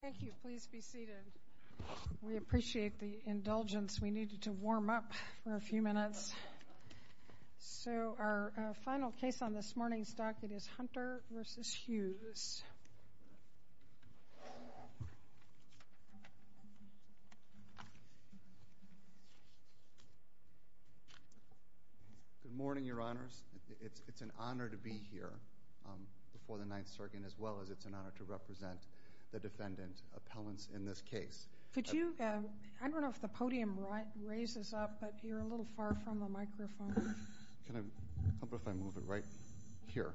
Thank you. Please be seated. We appreciate the indulgence. We needed to warm up for a few minutes. So our final case on this morning's docket is Hunter v. Hughes. Good morning, Your Honors. It's an honor to be here before the Ninth Circuit, and as well as it's an honor to represent the defendant appellants in this case. Could you – I don't know if the podium raises up, but you're a little far from the microphone. Can I – how about if I move it right here?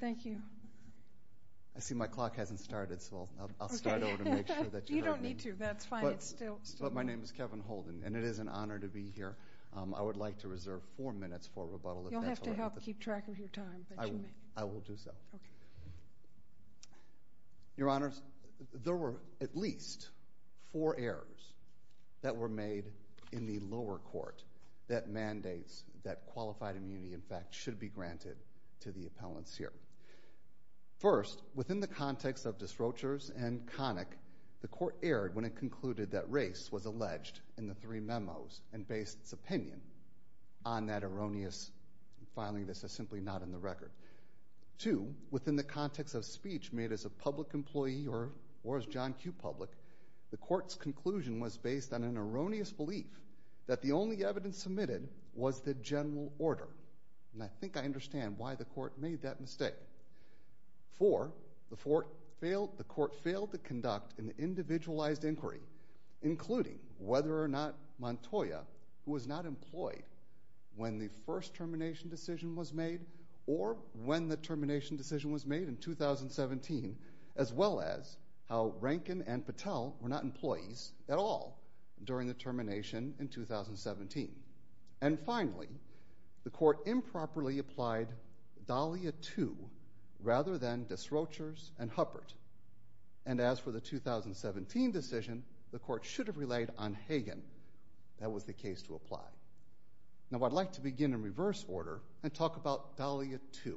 Thank you. I see my clock hasn't started, so I'll start over to make sure that you heard me. You don't need to. That's fine. It's still – But my name is Kevin Holden, and it is an honor to be here. I would like to reserve four minutes for rebuttal, if that's all right. You'll have to help keep track of your time. I will do so. Okay. Your Honors, there were at least four errors that were made in the lower court that mandates that qualified immunity, in fact, should be granted to the appellants here. First, within the context of Disrochers and Connick, the court erred when it concluded that race was alleged in the three memos and based its opinion on that erroneous filing. This is simply not in the record. Two, within the context of speech made as a public employee or as John Q. Public, the court's conclusion was based on an erroneous belief that the only evidence submitted was the general order. And I think I understand why the court made that mistake. Four, the court failed to conduct an individualized inquiry, including whether or not Montoya, who was not employed when the first termination decision was made or when the termination decision was made in 2017, as well as how Rankin and Patel were not employees at all during the termination in 2017. And finally, the court improperly applied Dahlia II rather than Disrochers and Huppert. And as for the 2017 decision, the court should have relied on Hagan. That was the case to apply. Now I'd like to begin in reverse order and talk about Dahlia II.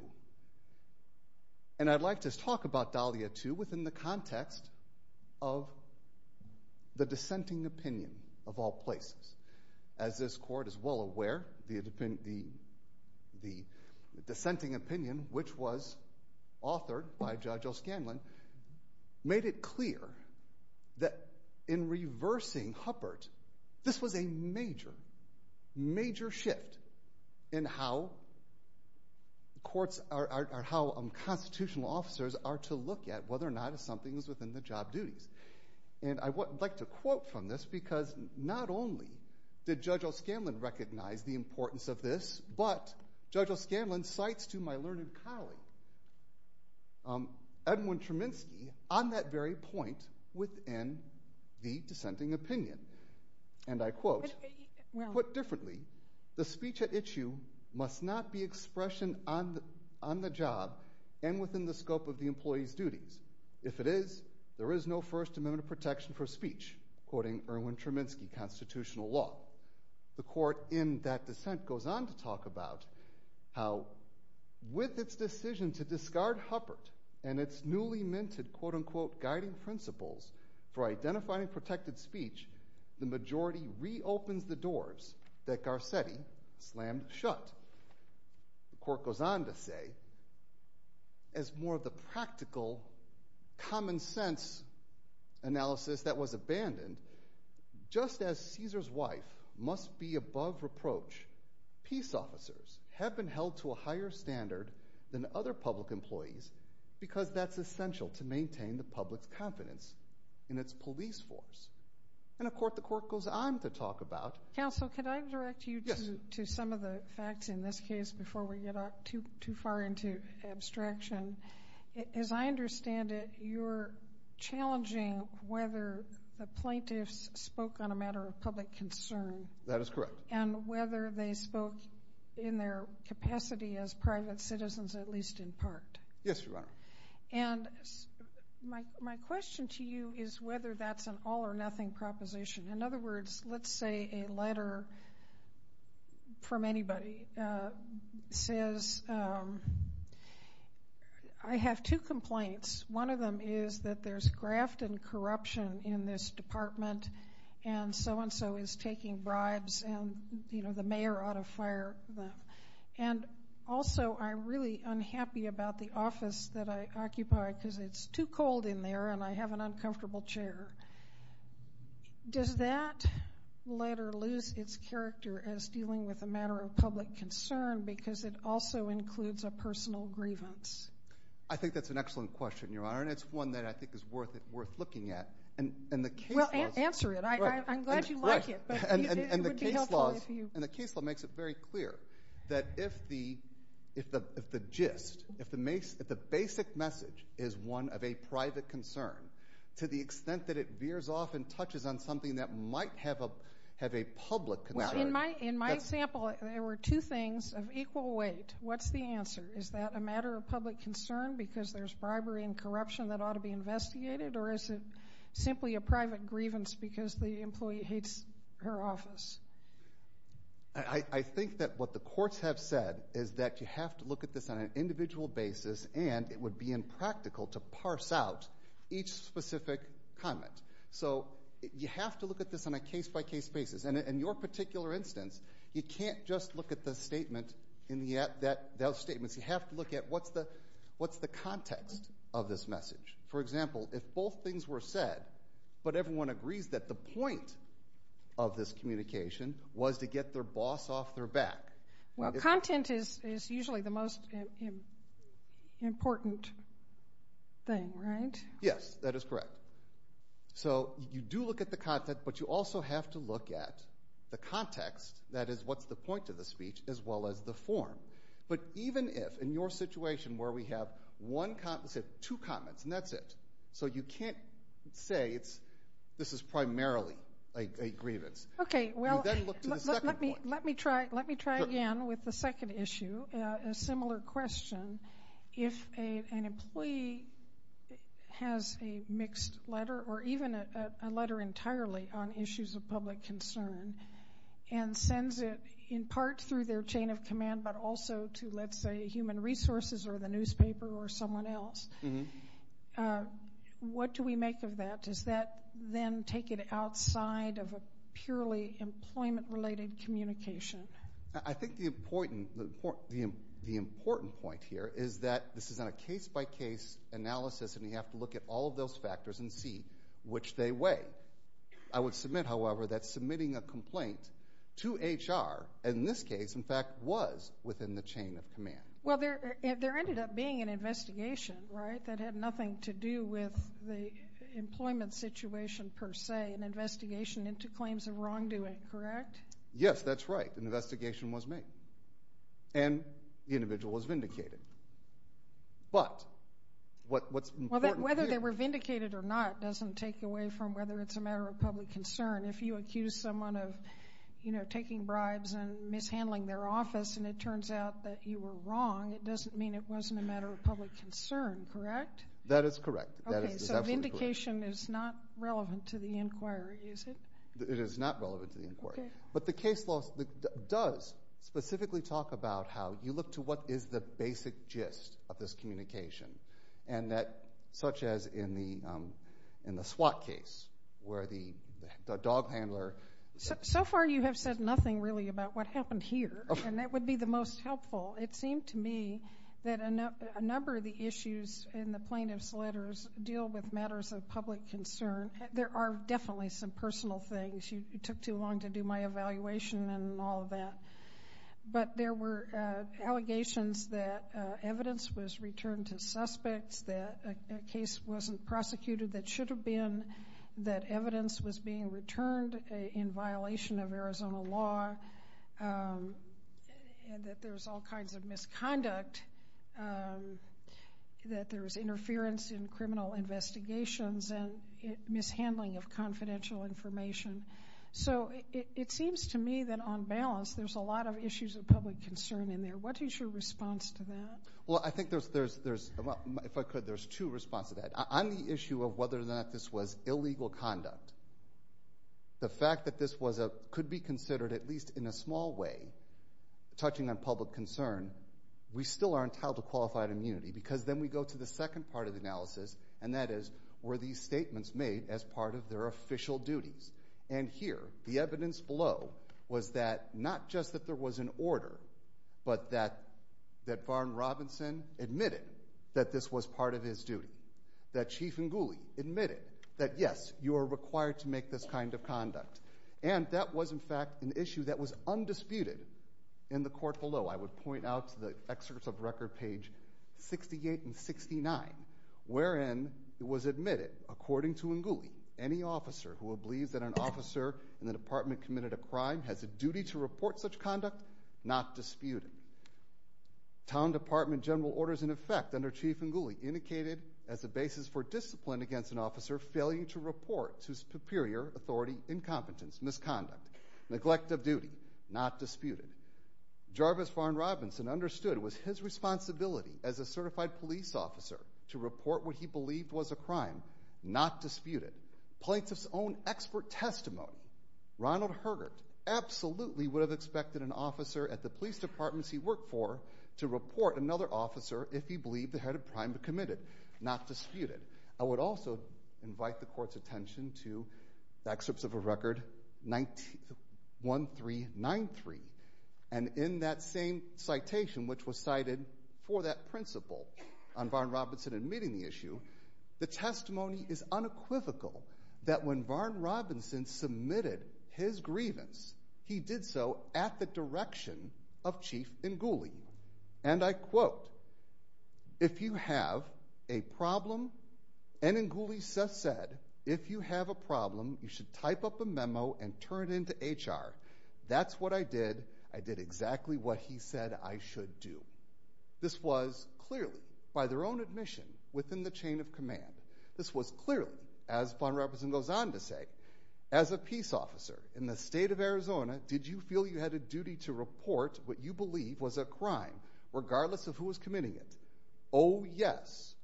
And I'd like to talk about Dahlia II within the context of the dissenting opinion of all places. As this court is well aware, the dissenting opinion, which was authored by Judge O'Scanlan, made it clear that in reversing Huppert, this was a major, major shift in how constitutional officers are to look at whether or not something is within the job duties. And I would like to quote from this because not only did Judge O'Scanlan recognize the importance of this, but Judge O'Scanlan cites to my learned colleague, Edwin Treminsky, on that very point within the dissenting opinion. And I quote, put differently, the speech at issue must not be expression on the job and within the scope of the employee's duties. If it is, there is no First Amendment protection for speech, quoting Erwin Treminsky constitutional law. The court in that dissent goes on to talk about how with its decision to discard Huppert and its newly minted quote, unquote, guiding principles for identifying protected speech, the majority reopens the doors that Garcetti slammed shut. The court goes on to say, as more of the practical, common sense analysis that was abandoned, just as Caesar's wife must be above reproach, peace officers have been held to a higher standard than other public employees because that's essential to maintain the public's confidence in its police force. And the court goes on to talk about Counsel, could I direct you to some of the facts in this case before we get too far into abstraction? As I understand it, you're challenging whether the plaintiffs spoke on a matter of public concern. That is correct. And whether they spoke in their capacity as private citizens, at least in part. Yes, Your Honor. And my question to you is whether that's an all or nothing proposition. In other words, let's say a letter from anybody says, I have two complaints. One of them is that there's graft and corruption in this department and so-and-so is taking bribes and, you know, the mayor ought to fire them. And also, I'm really unhappy about the office that I occupy because it's too cold in there and I have an uncomfortable chair. Does that letter lose its character as dealing with a matter of public concern because it also includes a personal grievance? I think that's an excellent question, Your Honor. And it's one that I think is worth looking at. Well, answer it. I'm glad you like it. And the case law makes it very clear that if the gist, if the basic message is one of a private concern to the extent that it veers off and touches on something that might have a public concern. In my example, there were two things of equal weight. What's the answer? Is that a matter of public concern because there's bribery and corruption that ought to be investigated? Or is it simply a private grievance because the employee hates her office? I think that what the courts have said is that you have to look at this on an individual basis and it would be impractical to parse out each specific comment. So you have to look at this on a case-by-case basis. And in your particular instance, you can't just look at the statement in those statements. You have to look at what's the context of this message. For example, if both things were said, but everyone agrees that the point of this communication was to get their boss off their back. Well, content is usually the most important thing, right? Yes, that is correct. So you do look at the content, but you also have to look at the context, that is, what's the point of the speech, as well as the form. But even if, in your situation where we have two comments and that's it, so you can't say this is primarily a grievance. Okay, well, let me try again with the second issue, a similar question. If an employee has a mixed letter or even a letter entirely on issues of public concern and sends it in part through their chain of command, but also to, let's say, human resources or the newspaper or someone else, what do we make of that? Does that then take it outside of a purely employment-related communication? I think the important point here is that this is not a case-by-case analysis, and you have to look at all of those factors and see which they weigh. I would submit, however, that submitting a complaint to HR, in this case, in fact, was within the chain of command. Well, there ended up being an investigation, right, but it had nothing to do with the employment situation per se, an investigation into claims of wrongdoing, correct? Yes, that's right. An investigation was made, and the individual was vindicated. But what's important here – Well, whether they were vindicated or not doesn't take away from whether it's a matter of public concern. If you accuse someone of, you know, taking bribes and mishandling their office and it turns out that you were wrong, it doesn't mean it wasn't a matter of public concern, correct? That is correct. Okay, so vindication is not relevant to the inquiry, is it? It is not relevant to the inquiry. But the case law does specifically talk about how you look to what is the basic gist of this communication, such as in the SWAT case where the dog handler – So far you have said nothing really about what happened here, and that would be the most helpful. It seemed to me that a number of the issues in the plaintiff's letters deal with matters of public concern. There are definitely some personal things. It took too long to do my evaluation and all of that. But there were allegations that evidence was returned to suspects, that a case wasn't prosecuted that should have been, that evidence was being returned in violation of Arizona law, and that there was all kinds of misconduct, that there was interference in criminal investigations and mishandling of confidential information. So it seems to me that on balance there's a lot of issues of public concern in there. What is your response to that? Well, I think there's, if I could, there's two responses to that. On the issue of whether or not this was illegal conduct, the fact that this could be considered, at least in a small way, touching on public concern, we still aren't held to qualified immunity because then we go to the second part of the analysis, and that is were these statements made as part of their official duties? And here, the evidence below was that not just that there was an order, but that Varn Robinson admitted that this was part of his duty, that Chief Ngouli admitted that, yes, you are required to make this kind of conduct. And that was, in fact, an issue that was undisputed in the court below. I would point out to the excerpts of record page 68 and 69, wherein it was admitted, according to Ngouli, any officer who believes that an officer in the department committed a crime has a duty to report such conduct, not disputed. Town Department general orders, in effect, under Chief Ngouli, indicated as a basis for discipline against an officer failing to report whose superior authority, incompetence, misconduct, neglect of duty, not disputed. Jarvis Varn Robinson understood it was his responsibility as a certified police officer to report what he believed was a crime, not disputed. Plaintiff's own expert testimony, Ronald Hergert, absolutely would have expected an officer at the police departments he worked for to report another officer if he believed they had a crime committed, not disputed. I would also invite the Court's attention to the excerpts of record 1393. And in that same citation, which was cited for that principle on Varn Robinson admitting the issue, the testimony is unequivocal that when Varn Robinson submitted his grievance, he did so at the direction of Chief Ngouli. And I quote, If you have a problem, and Ngouli said, If you have a problem, you should type up a memo and turn it in to HR. That's what I did. I did exactly what he said I should do. This was clearly, by their own admission, within the chain of command. This was clearly, as Varn Robinson goes on to say, As a peace officer in the state of Arizona, did you feel you had a duty to report what you believe was a crime, regardless of who was committing it? Oh, yes.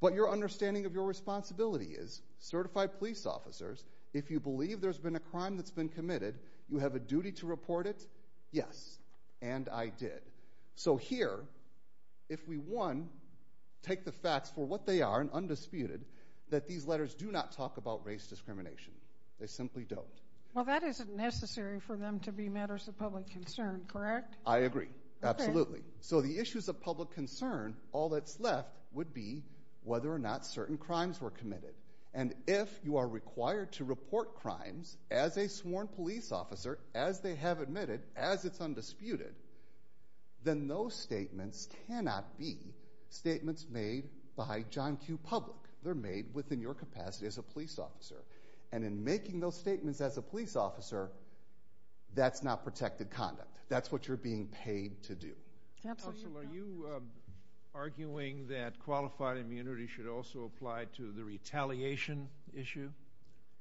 But your understanding of your responsibility is, certified police officers, if you believe there's been a crime that's been committed, you have a duty to report it? Yes. And I did. So here, if we, one, take the facts for what they are and undisputed, that these letters do not talk about race discrimination. They simply don't. Well, that isn't necessary for them to be matters of public concern, correct? I agree. Absolutely. So the issues of public concern, all that's left would be whether or not certain crimes were committed. And if you are required to report crimes as a sworn police officer, as they have admitted, as it's undisputed, then those statements cannot be statements made by John Q. Public. They're made within your capacity as a police officer. And in making those statements as a police officer, that's not protected conduct. That's what you're being paid to do. Counsel, are you arguing that qualified immunity should also apply to the retaliation issue?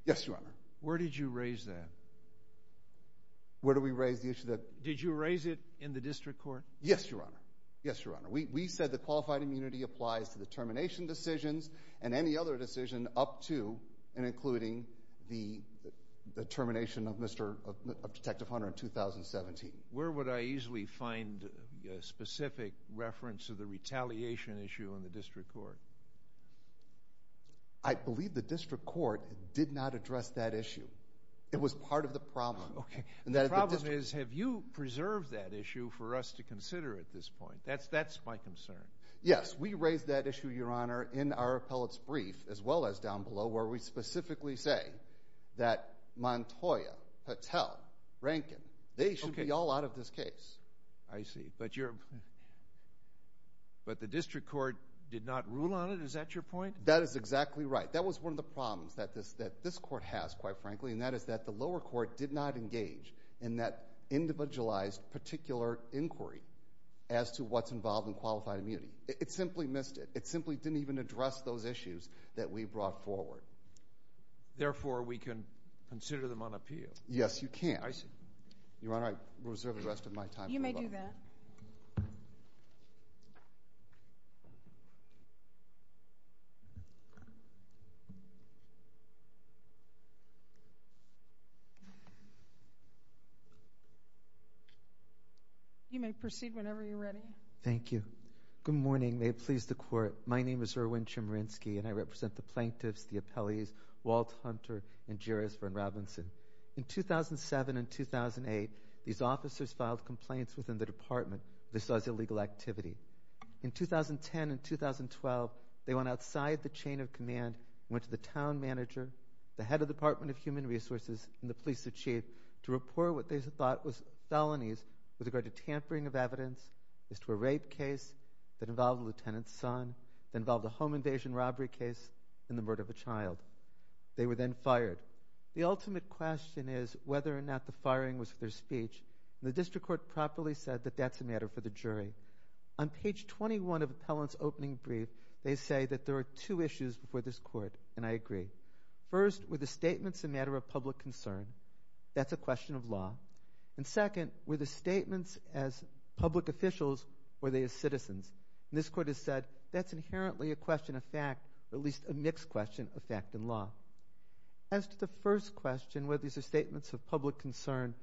Yes, Your Honor. Where did you raise that? Where did we raise the issue that— Did you raise it in the district court? Yes, Your Honor. Yes, Your Honor. We said that qualified immunity applies to the termination decisions and any other decision up to and including the termination of Detective Hunter in 2017. Where would I easily find a specific reference to the retaliation issue in the district court? I believe the district court did not address that issue. It was part of the problem. Okay. The problem is, have you preserved that issue for us to consider at this point? That's my concern. Yes, we raised that issue, Your Honor, in our appellate's brief, as well as down below, where we specifically say that Montoya, Patel, Rankin, they should be all out of this case. I see. But the district court did not rule on it? Is that your point? That is exactly right. That was one of the problems that this court has, quite frankly, and that is that the lower court did not engage in that individualized particular inquiry as to what's involved in qualified immunity. It simply missed it. It simply didn't even address those issues that we brought forward. Therefore, we can consider them on appeal. Yes, you can. I see. Your Honor, I reserve the rest of my time. You may do that. You may proceed whenever you're ready. Thank you. Good morning. May it please the Court. My name is Erwin Chemerinsky, and I represent the plaintiffs, the appellees, Walt Hunter and Jeris Verne Robinson. In 2007 and 2008, these officers filed complaints within the department that this was illegal activity. In 2010 and 2012, they went outside the chain of command, went to the town manager, the head of the Department of Human Resources, and the police chief to report what they thought was felonies with regard to tampering of evidence as to a rape case that involved a lieutenant's son, that involved a home invasion robbery case, and the murder of a child. They were then fired. The ultimate question is whether or not the firing was for their speech, and the district court properly said that that's a matter for the jury. On page 21 of the appellant's opening brief, they say that there are two issues before this court, and I agree. First, were the statements a matter of public concern? That's a question of law. Second, were the statements as public officials or were they as citizens? This court has said that's inherently a question of fact, or at least a mixed question of fact and law. As to the first question, whether these are statements of public concern,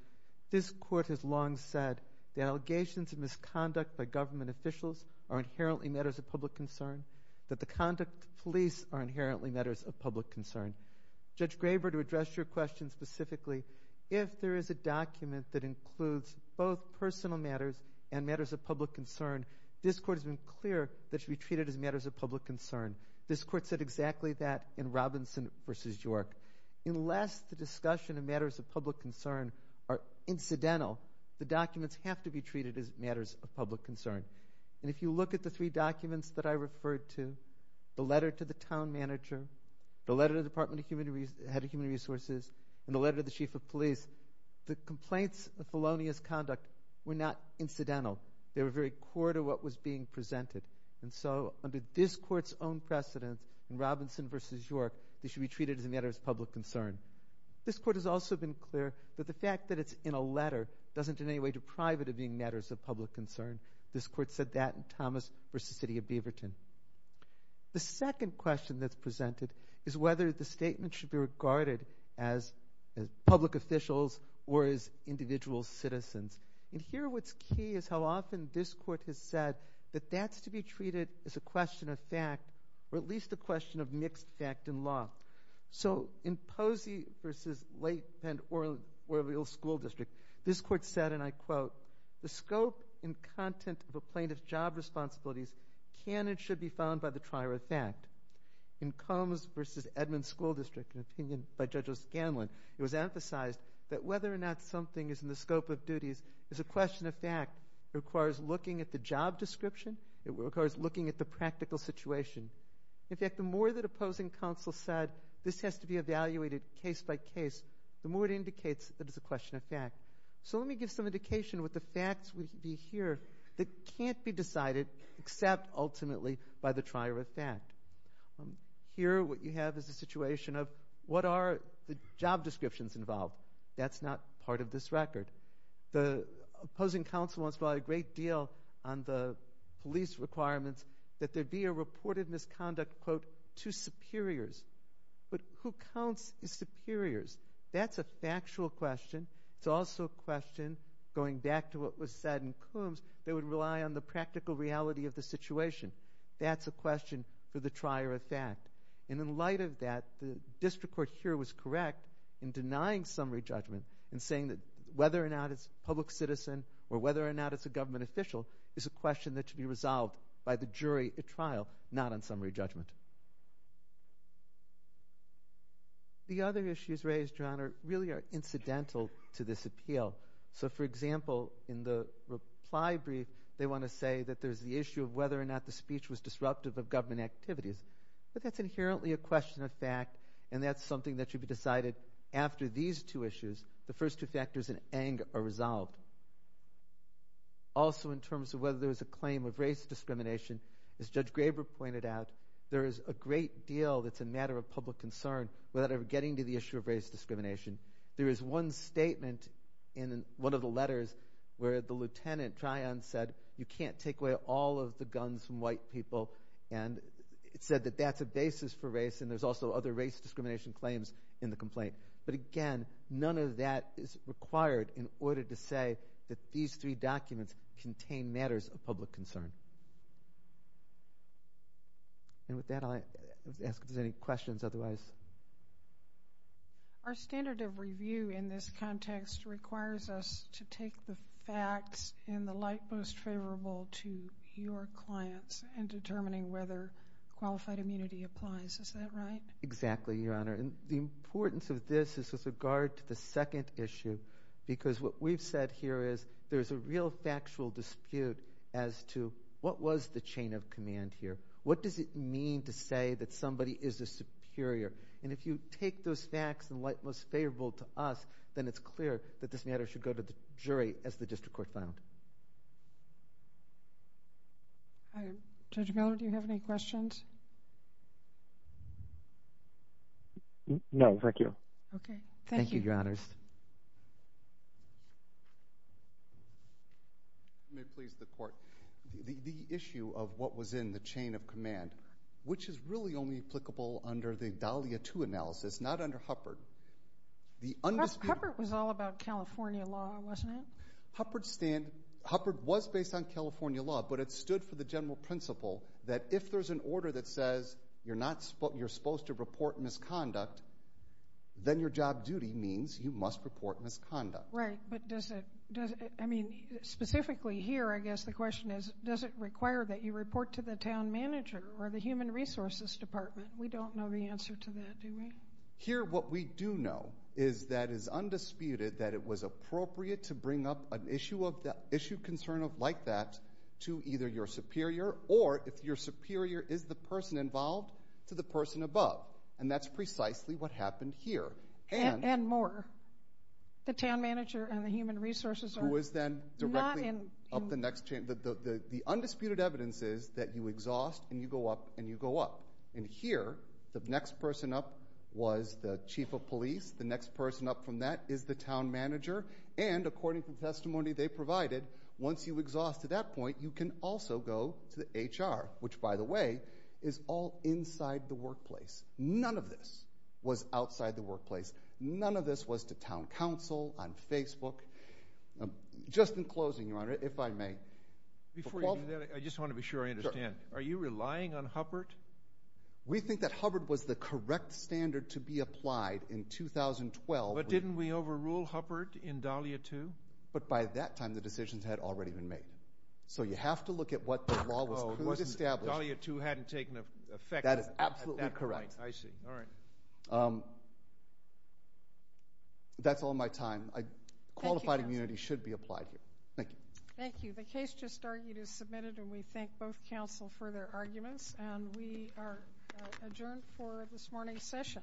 this court has long said the allegations of misconduct by government officials are inherently matters of public concern, that the conduct of police are inherently matters of public concern. Judge Graber, to address your question specifically, if there is a document that includes both personal matters and matters of public concern, this court has been clear that it should be treated as matters of public concern. This court said exactly that in Robinson v. York. Unless the discussion of matters of public concern are incidental, the documents have to be treated as matters of public concern. And if you look at the three documents that I referred to, the letter to the town manager, the letter to the Department of Human Resources, and the letter to the chief of police, the complaints of felonious conduct were not incidental. They were very core to what was being presented. And so under this court's own precedence in Robinson v. York, they should be treated as matters of public concern. This court has also been clear that the fact that it's in a letter doesn't in any way deprive it of being matters of public concern. This court said that in Thomas v. City of Beaverton. The second question that's presented is whether the statement should be regarded as public officials or as individual citizens. And here what's key is how often this court has said that that's to be treated as a question of fact or at least a question of mixed fact and law. So in Posey v. Lake Bend Orlea School District, this court said, and I quote, the scope and content of a plaintiff's job responsibilities can and should be found by the trier of fact. In Combs v. Edmond School District, an opinion by Judge O'Scanlan, it was emphasized that whether or not something is in the scope of duties is a question of fact. It requires looking at the job description. It requires looking at the practical situation. In fact, the more that opposing counsel said this has to be evaluated case by case, the more it indicates that it's a question of fact. So let me give some indication of what the facts would be here that can't be decided except ultimately by the trier of fact. Here what you have is a situation of what are the job descriptions involved? That's not part of this record. The opposing counsel wants to rely a great deal on the police requirements that there be a reported misconduct, quote, to superiors. But who counts as superiors? That's a factual question. It's also a question, going back to what was said in Combs, they would rely on the practical reality of the situation. That's a question for the trier of fact. And in light of that, the district court here was correct in denying summary judgment and saying that whether or not it's a public citizen or whether or not it's a government official is a question that should be resolved by the jury at trial, not on summary judgment. The other issues raised, John, really are incidental to this appeal. So, for example, in the reply brief, they want to say that there's the issue of whether or not the speech was disruptive of government activities. But that's inherently a question of fact, and that's something that should be decided after these two issues. The first two factors in Eng are resolved. Also in terms of whether there's a claim of race discrimination, as Judge Graber pointed out, there is a great deal that's a matter of public concern without ever getting to the issue of race discrimination. There is one statement in one of the letters where the lieutenant, Tryon, said, you can't take away all of the guns from white people, and it said that that's a basis for race, and there's also other race discrimination claims in the complaint. But again, none of that is required in order to say that these three documents contain matters of public concern. And with that, I'll ask if there's any questions otherwise. Our standard of review in this context requires us to take the facts in the light most favorable to your clients in determining whether qualified immunity applies. Is that right? Exactly, Your Honor. And the importance of this is with regard to the second issue, because what we've said here is there's a real factual dispute as to what was the chain of command here. What does it mean to say that somebody is a superior? And if you take those facts in the light most favorable to us, then it's clear that this matter should go to the jury, as the district court found. Judge Miller, do you have any questions? No, thank you. Okay, thank you. Thank you, Your Honors. If you may please, the Court. The issue of what was in the chain of command, which is really only applicable under the Dahlia II analysis, not under Huppert. Huppert was all about California law, wasn't it? Huppert was based on California law, but it stood for the general principle that if there's an order that says you're supposed to report misconduct, then your job duty means you must report misconduct. Right, but does it? I mean, specifically here, I guess the question is, does it require that you report to the town manager or the human resources department? We don't know the answer to that, do we? Here what we do know is that it is undisputed that it was appropriate to bring up an issue concern of like that to either your superior, or if your superior is the person involved, to the person above. And that's precisely what happened here. And more. The town manager and the human resources are not in. The undisputed evidence is that you exhaust and you go up and you go up. And here, the next person up was the chief of police. The next person up from that is the town manager. And according to the testimony they provided, once you exhaust to that point, you can also go to the HR, which, by the way, is all inside the workplace. None of this was outside the workplace. None of this was to town council, on Facebook. Just in closing, Your Honor, if I may. Before you do that, I just want to be sure I understand. Are you relying on Hubbard? We think that Hubbard was the correct standard to be applied in 2012. But didn't we overrule Hubbard in Dahlia II? But by that time, the decisions had already been made. So you have to look at what the law was established. Dahlia II hadn't taken effect at that point. That is absolutely correct. I see. All right. That's all my time. Qualified immunity should be applied here. Thank you. Thank you. The case just argued is submitted, and we thank both counsel for their arguments. And we are adjourned for this morning's session.